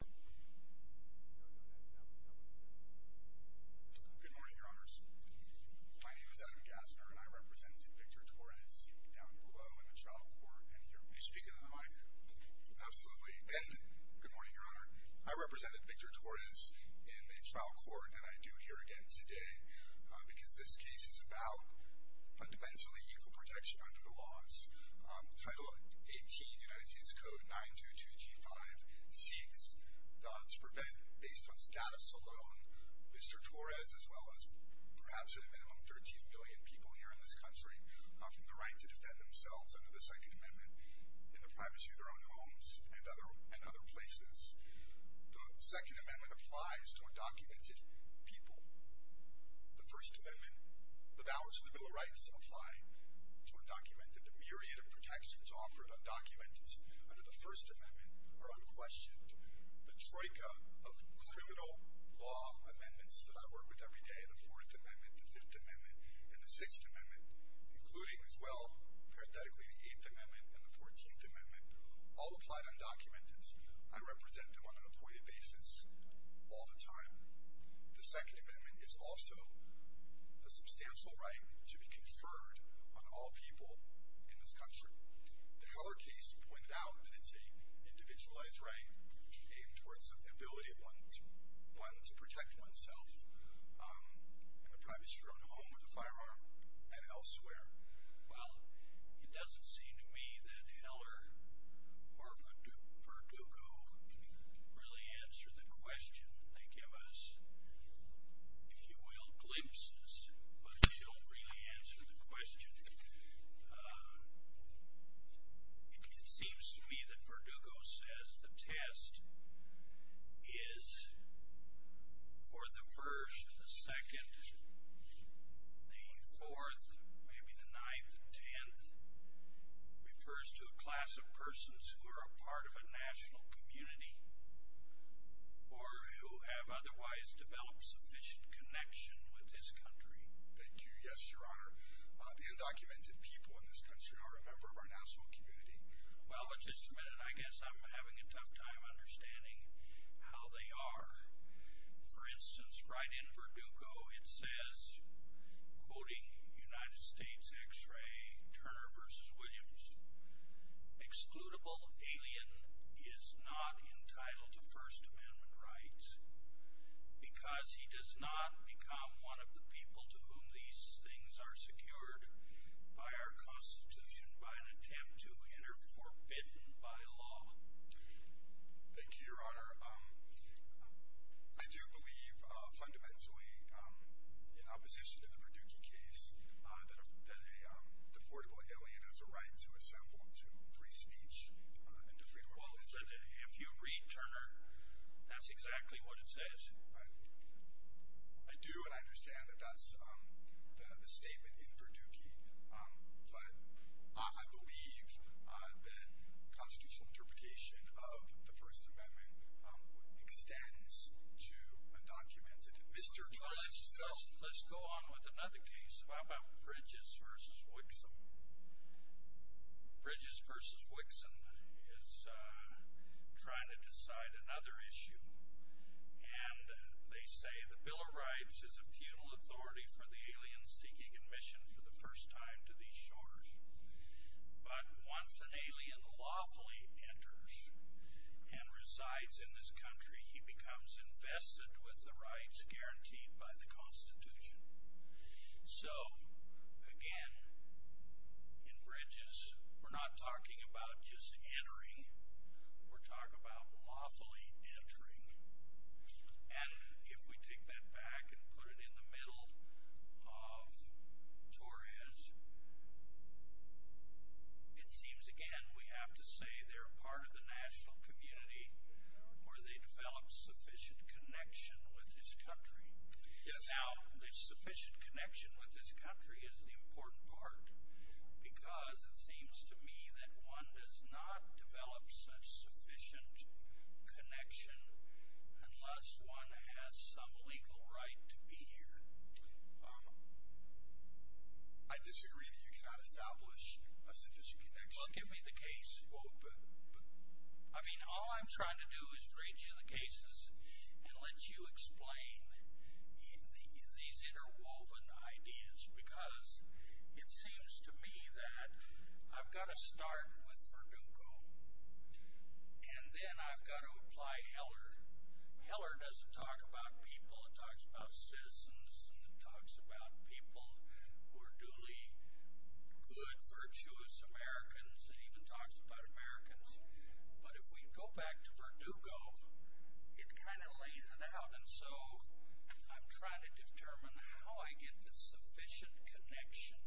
Good morning, your honors. My name is Adam Gassner, and I represented Victor Torres down below in the trial court. Can you speak into the mic? Absolutely. Good morning, your honor. I represented Victor Torres in the trial court, and I do here again today because this case is about fundamentally equal protection under the laws. Title 18, United States Code 922G5 seeks to prevent, based on status alone, Victor Torres, as well as perhaps at a minimum 13 billion people here in this country, from the right to defend themselves under the Second Amendment in the privacy of their own homes and other places. The Second Amendment applies to undocumented people. The First Amendment, the vows of the Bill of Rights apply to undocumented. The myriad of protections offered undocumented under the First Amendment are unquestioned. The troika of criminal law amendments that I work with every day, the Fourth Amendment, the Fifth Amendment, and the Sixth Amendment, including as well, parenthetically, the Eighth Amendment and the Fourteenth Amendment, all applied undocumented. I represent them on an appointed basis all the time. The Second Amendment is also a substantial right to be conferred on all people in this country. The Heller case pointed out that it's a individualized right aimed towards the ability of one to protect oneself in a privacy of their own home with a firearm and elsewhere. Well, it doesn't seem to me that Heller or Verdugo really answer the question. They give us, if you will, glimpses, but they don't really answer the question. It seems to me that Verdugo says the test is for the first, the second, the fourth, maybe the ninth and tenth, refers to a class of persons who are a part of a national community or who have otherwise developed sufficient connection with this country. Thank you, yes, your honor. The undocumented people in this country are a member of our national community. Well, but just a minute, I guess I'm having a tough time understanding how they are. For instance, right in Verdugo, it says, quoting United States X-ray, Turner versus Williams, excludable alien is not entitled to first amendment rights because he does not become one of the people to whom these things are secured by our constitution by an attempt to enter forbidden by law. Thank you, your honor. I do believe fundamentally in opposition to the alien as a right to assemble to free speech and to freedom of religion. If you read Turner, that's exactly what it says. I do, and I understand that that's the statement in Verdugo, but I believe that constitutional interpretation of the first amendment extends to undocumented Mr. Turner. Let's go on with another case. How about Bridges versus Wixom? Bridges versus Wixom is trying to decide another issue, and they say the Bill of Rights is a feudal authority for the aliens seeking admission for the first time to these shores. But once an alien lawfully enters and resides in this country, he becomes invested with the guaranteed by the constitution. So, again, in Bridges, we're not talking about just entering, we're talking about lawfully entering. And if we take that back and put it in the middle of Torres, it seems, again, we have to say they're part of the national community where they develop sufficient connection with this country. Now, the sufficient connection with this country is the important part because it seems to me that one does not develop such sufficient connection unless one has some legal right to be here. I disagree that you cannot establish a sufficient connection. Well, give me the case. But I mean, all I'm trying to do is read you the cases and let you explain these interwoven ideas because it seems to me that I've got to start with Verdugo and then I've got to apply Heller. Heller doesn't talk about people. It talks about citizens and it talks about people who are duly good, virtuous Americans. It even talks about Americans. But if we go back to Verdugo, it kind of lays it out. And so I'm trying to determine how I get the sufficient connection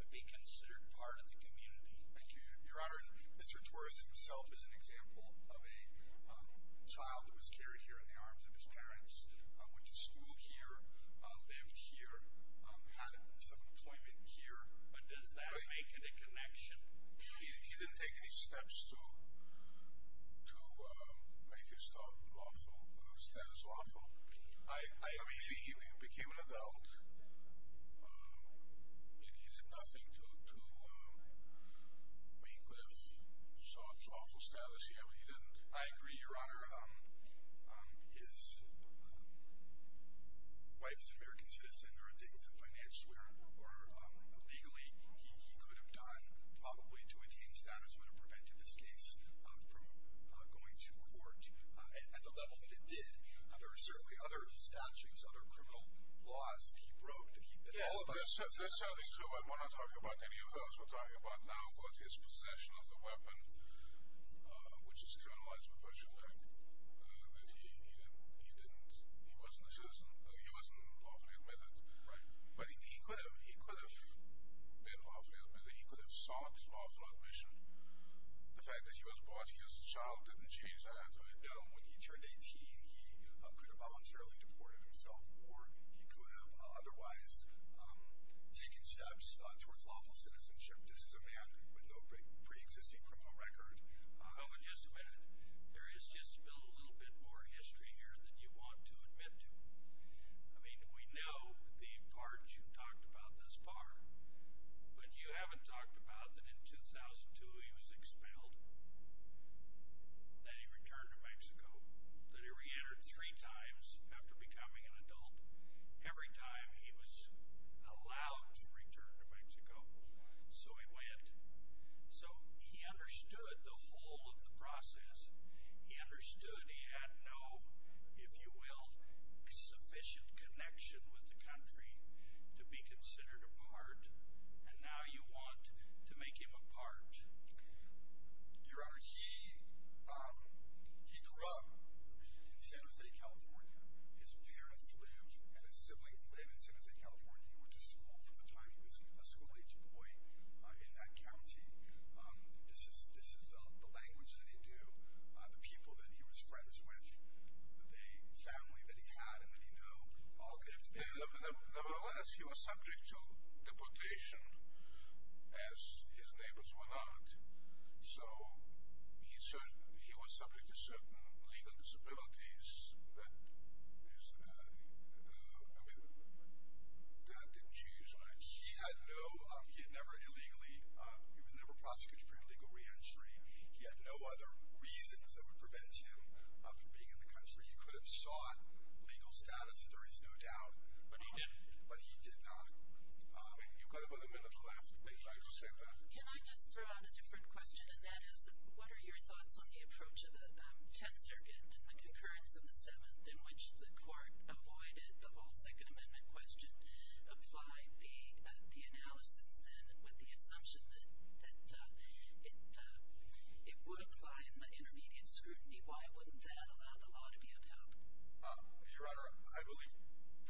to be considered part of the community. Thank you, your honor. Mr. Torres himself is an example of a child that was carried here in the arms of his parents, went to school here, lived here, had some employment here. But does that make it a connection? He didn't take any steps to to make his status lawful. I mean, he became an adult and he did nothing to make that status lawful. I agree, your honor. His wife is an American citizen. There are things that financially or legally he could have done probably to attain status would have prevented this case from going to court. And at the level that it did, there are certainly other statutes, other criminal laws that he broke. That's certainly true, but we're not talking about any of those. We're talking about now which is criminalized because you said that he didn't he wasn't a citizen. He wasn't lawfully admitted. Right. But he could have. He could have been lawfully admitted. He could have sought lawful admission. The fact that he was brought here as a child didn't change that. No. When he turned 18, he could have voluntarily deported himself or he could have otherwise taken steps towards lawful citizenship. This is a man with no pre-existing criminal record. Oh, just a minute. There is just a little bit more history here than you want to admit to. I mean, we know the parts you've talked about thus far, but you haven't talked about that in 2002, he was expelled, that he returned to Mexico, that he reentered three times after becoming an adult. Every time he was allowed to return to Mexico, so he went. So he understood the whole of the process. He understood he had no, if you will, sufficient connection with the country to be considered a part, and now you want to make him a part. Your Honor, he grew up in San Jose, California. His parents live and his siblings live in San Jose, California. He went to school from the time he was a school-age boy in that county. This is the language that he knew, the people that he was friends with, the family that he had and that he knew. Nevertheless, he was subject to deportation as his neighbors were not. So he was subject to certain legal disabilities, but his dad didn't choose rights. He had no, he had never illegally, he was never prosecuted for illegal re-entry. He had no other reasons that would prevent him from being in the country. He could have sought legal status, there is no doubt. But he didn't. But he did not. You've got about a minute left. Can I just throw out a different question, and that is, what are your thoughts on the approach of the Tenth Circuit and the concurrence of the Seventh in which the court avoided the whole Second Amendment question, applied the analysis then with the assumption that it would apply in the intermediate scrutiny? Why wouldn't that allow the law to be upheld? Your Honor, I believe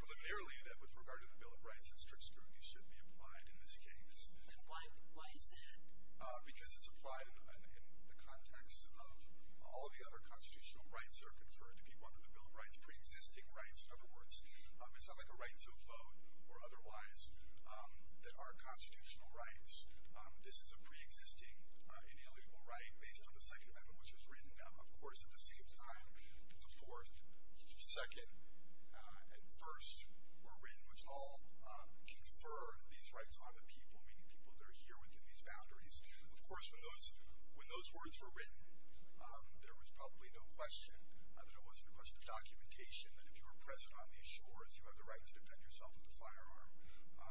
preliminarily that with regard to the Bill of Rights, that strict scrutiny should be applied in this case. Then why is that? Because it's applied in the context of all the other constitutional rights that are conferred to people under the Bill of Rights, pre-existing rights. In other words, it's not like a right to vote or otherwise that are constitutional rights. This is a pre-existing inalienable right based on the Second Amendment, which was written, of course, at the same time the Fourth, Second, and First were written, which all confer these rights on the people, meaning people that are here within these boundaries. Of course, when those words were written, there was probably no question that it wasn't a question of documentation, that if you were present on these shores, you had the right to defend yourself with a firearm.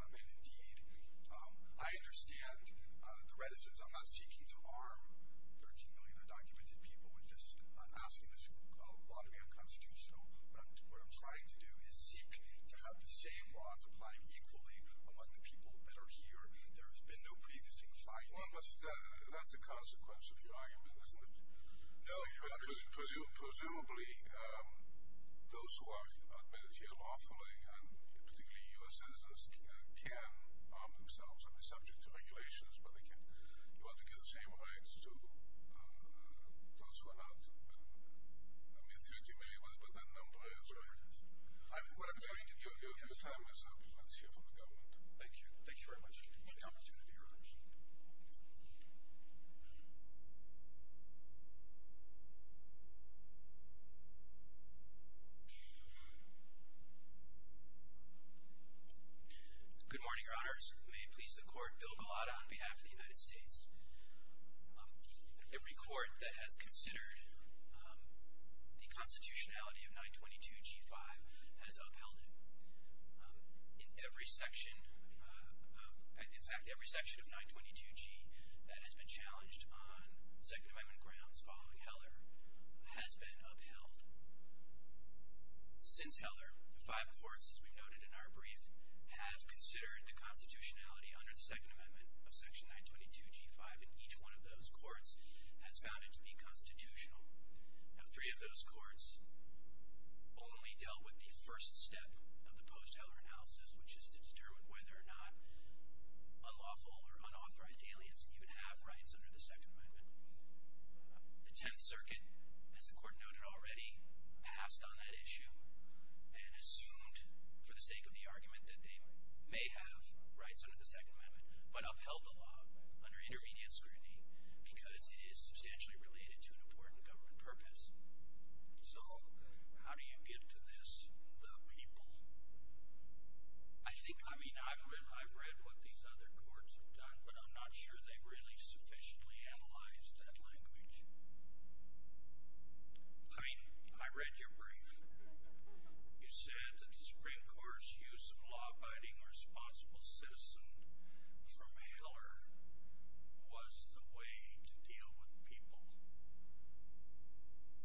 And indeed, I understand the reticence. I'm not seeking to arm 13 million undocumented people with this, I'm not asking this law to be unconstitutional, but what I'm trying to do is seek to have the same laws applying equally among the people that are here. There has been no pre-existing findings. Well, that's a consequence of your argument, isn't it? No, Your Honor. Presumably, those who are admitted here lawfully, and particularly U.S. citizens, can arm themselves. I mean, subject to regulations, but you want to give the same rights to uh, those who are not, I mean, 13 million, whatever that number is, right? What I'm trying to do, yes. Your time is up. Let's hear from the government. Thank you. Thank you very much for the opportunity, Your Honors. Good morning, Your Honors. May it please the Court, Bill Gulotta on behalf of the United States. Every court that has considered the constitutionality of 922g5 has upheld it. In every section, in fact, every section of 922g that has been challenged on Second Amendment grounds following Heller has been upheld. Since Heller, the five courts, as we noted in our brief, have considered the constitutionality under the Second Amendment of Section 922g5, and each one of those courts has found it to be constitutional. Now, three of those courts only dealt with the first step of the post-Heller analysis, which is to determine whether or not unlawful or unauthorized aliens even have rights under the Second Amendment. The Tenth Circuit, as the Court noted already, passed on that issue and assumed for the sake of the argument that they may have rights under the Second Amendment, but upheld the law under intermediate scrutiny because it is substantially related to an important government purpose. So, how do you get to this, the people? I think, I mean, I've read what these other courts have done, but I'm not sure they've really sufficiently analyzed that language. I mean, I read your brief. You said that the Supreme Court's use of law-abiding or responsible citizen from Heller was the way to deal with people,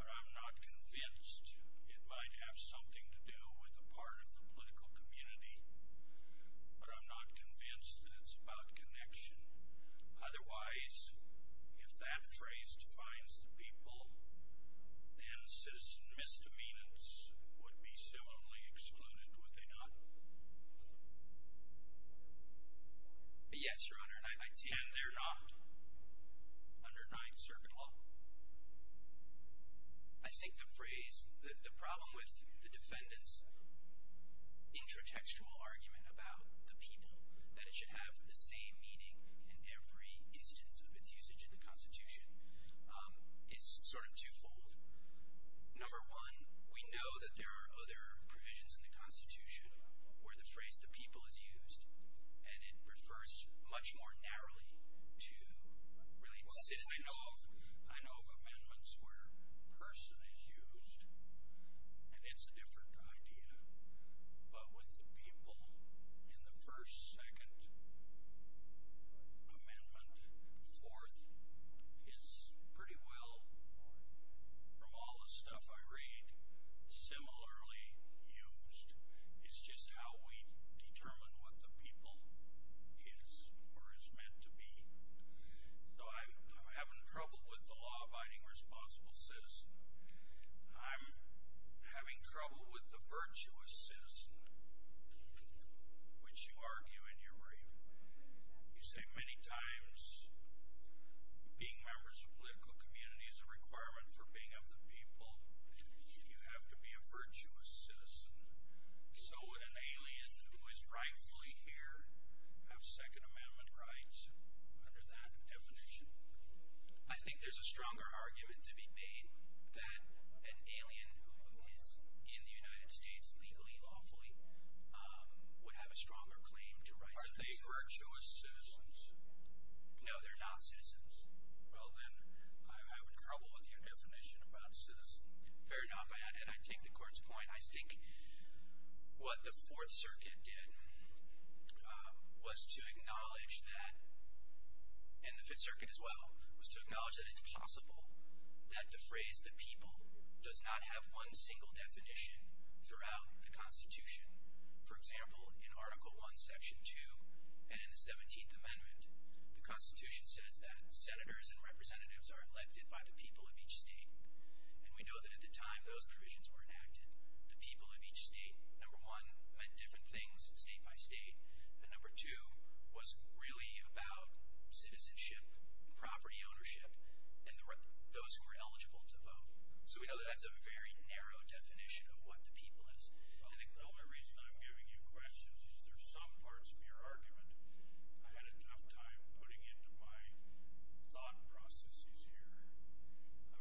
but I'm not convinced it might have something to do with a part of the political community, but I'm not convinced that it's about connection. Otherwise, if that phrase defines the people, then citizen misdemeanors would be similarly excluded, would they not? Yes, Your Honor. And they're not under Ninth Circuit law? I think the phrase, the problem with the defendant's argument about the people, that it should have the same meaning in every instance of its usage in the Constitution, is sort of twofold. Number one, we know that there are other provisions in the Constitution where the phrase the people is used, and it refers much more narrowly to related citizens. I know of amendments where person is used, and it's a different idea, but with the people in the first, second, amendment, fourth, is pretty well, from all the stuff I read, similarly used. It's just how we determine what the people is or is meant to be. So I'm having trouble with the law-abiding responsible citizen. I'm having trouble with the virtuous citizen, which you argue in your brief. You say many times being members of political community is a requirement for being of the people. You have to be a virtuous citizen. So would an alien who is rightfully here have Second Amendment rights under that definition? I think there's a stronger argument to be made that an alien who is in the United States legally, lawfully, would have a stronger claim to rights. Are they virtuous citizens? No, they're not citizens. Well, then I would trouble with your definition about citizens. Fair enough. I take the court's point. I think what the Fourth Circuit did was to acknowledge that, and the Fifth Circuit as well, was to acknowledge that it's possible that the phrase the people does not have one single definition throughout the Constitution. For example, in Article I, Section 2, and in the 17th Amendment, the Constitution says that senators and representatives are elected by the people of each state, and we know that at the time those provisions were enacted, the people of each state, number one, meant different things. State by state. And number two was really about citizenship, property ownership, and those who are eligible to vote. So we know that that's a very narrow definition of what the people is. Well, the only reason I'm giving you questions is there's some parts of your argument I had a tough time putting into my thought processes here.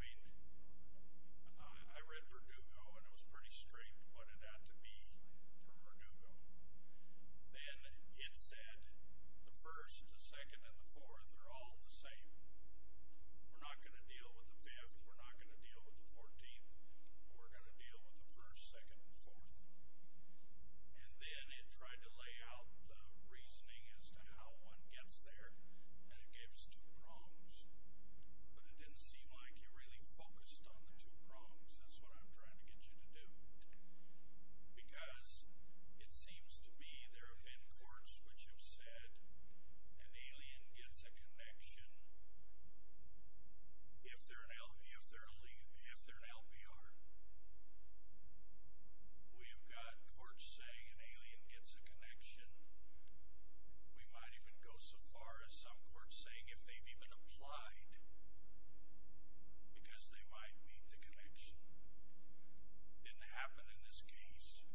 I mean, I read Verdugo and it was pretty straight what it had to be from Verdugo. Then it said the first, the second, and the fourth are all the same. We're not going to deal with the fifth. We're not going to deal with the fourteenth. We're going to deal with the first, second, and fourth. And then it tried to lay out the reasoning as to how one gets there, and it gave us two prongs. But it didn't seem like you really focused on the two prongs. That's what I'm trying to get you to do. Because it seems to be there have been courts which have said an alien gets a connection if they're an LPR. We have got courts saying an alien gets a connection. We might even go so far as some courts saying if they've even applied because they might meet the connection. And to happen in this case,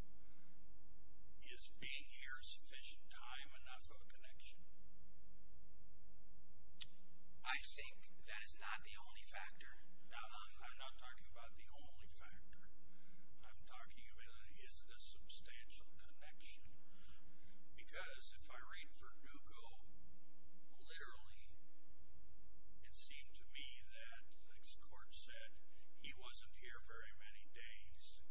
is being here a sufficient time enough of a connection? I think that is not the only factor. No, I'm not talking about the only factor. I'm talking about is the substantial connection. Because if I read Verdugo literally, it seemed to me that this court said he wasn't here very many days.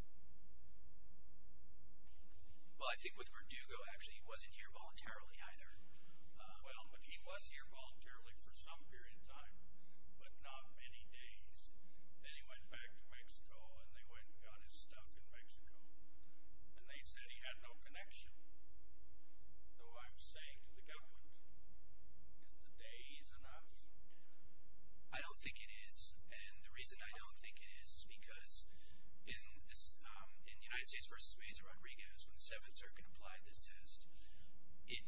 Well, I think with Verdugo, actually, he wasn't here voluntarily either. Well, but he was here voluntarily for some period of time, but not many days. Then he went back to Mexico, and they went and got his stuff in Mexico. And they said he had no connection. So I'm saying to the government, is the day is enough? I don't think it is. And the reason I don't think it is because in this, in United States versus Mesa Rodriguez, when the Seventh Circuit applied this test, it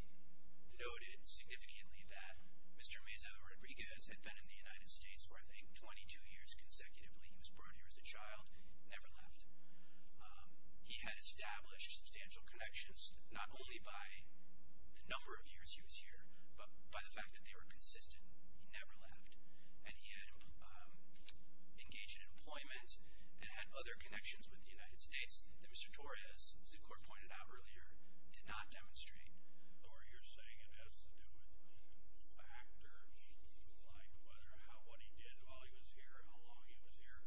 noted significantly that Mr. Mesa Rodriguez had been in the United States for, I think, 22 years consecutively. He was established substantial connections, not only by the number of years he was here, but by the fact that they were consistent. He never left. And he had engaged in employment and had other connections with the United States that Mr. Torres, as the court pointed out earlier, did not demonstrate. Or you're saying it has to do with factors like whether how, what he did while he was here, how long he was here,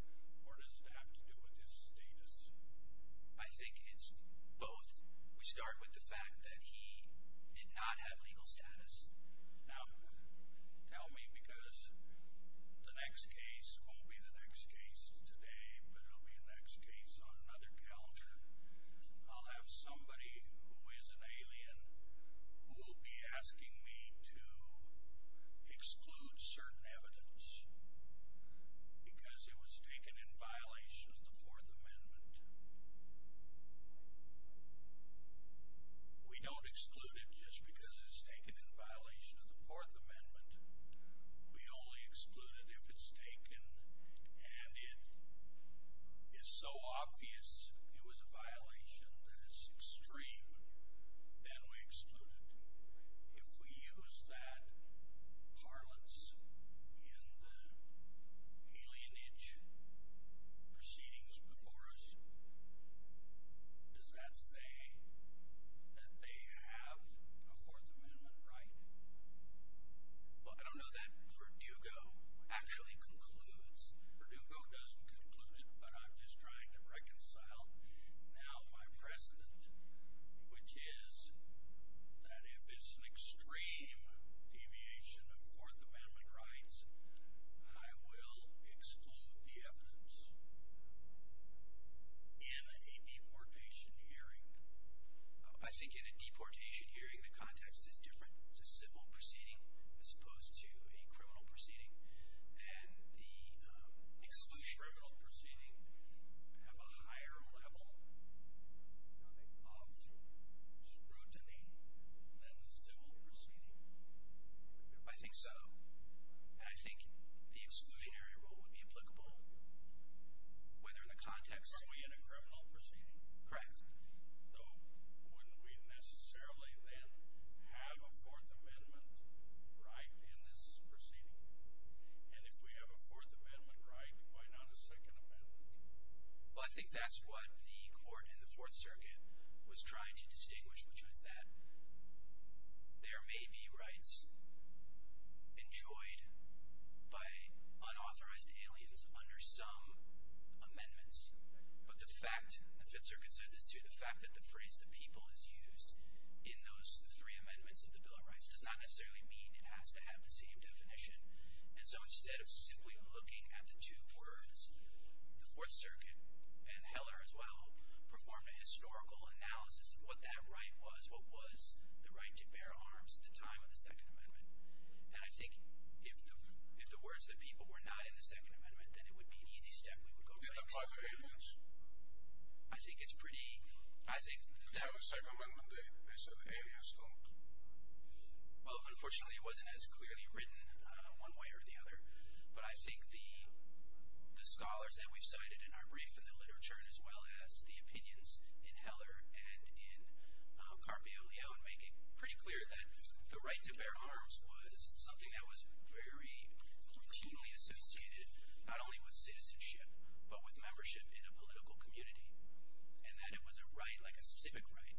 or does it have to do with his status? I think it's both. We start with the fact that he did not have legal status. Now, tell me, because the next case won't be the next case today, but it'll be the next case on another calendar. I'll have somebody who is an alien who will be asking me to explain. We don't exclude it just because it's taken in violation of the Fourth Amendment. We only exclude it if it's taken and it is so obvious it was a violation that is extreme, then we exclude it. If we use that parlance in the alienage proceedings before us, does that say that they have a Fourth Amendment right? Well, I don't know that Verdugo actually concludes. Verdugo doesn't conclude it, but I'm just trying to reconcile now my precedent, which is that if it's an extreme deviation of Fourth Amendment rights, I will exclude the evidence in a deportation hearing. I think in a deportation hearing, the context is different. It's a civil proceeding as opposed to a criminal proceeding, and the exclusionary rule would be applicable whether in the context... Are we in a criminal proceeding? Correct. So wouldn't we necessarily then have a Fourth Amendment right in this proceeding? And if we have a Fourth Amendment right, why not a Second Amendment? Well, I think that's what the court in the Fourth Circuit was trying to distinguish, which was that there may be rights enjoyed by unauthorized aliens under some amendments, but the fact, the Fifth Circuit said this too, the fact that the phrase the people is used in those three amendments of the Bill of Rights does not necessarily mean it has to have the same definition. And so instead of simply looking at the two words, the Fourth Circuit and Heller as well performed a historical analysis of what that right was, what was the right to bear arms at the time of the Second Amendment. And I think if the words of the people were not in the Second Amendment, I think it's pretty... I think... Well, unfortunately, it wasn't as clearly written one way or the other, but I think the scholars that we've cited in our brief and the literature, as well as the opinions in Heller and in Carpio Leo, make it pretty clear that the right to bear arms was something that was very routinely associated, not only with citizenship, but with membership in a political community, and that it was a right, like a civic right,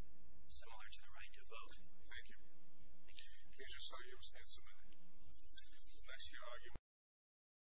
similar to the right to vote. Thank you. Thank you. Please just hold your stance a minute. Unless you argue...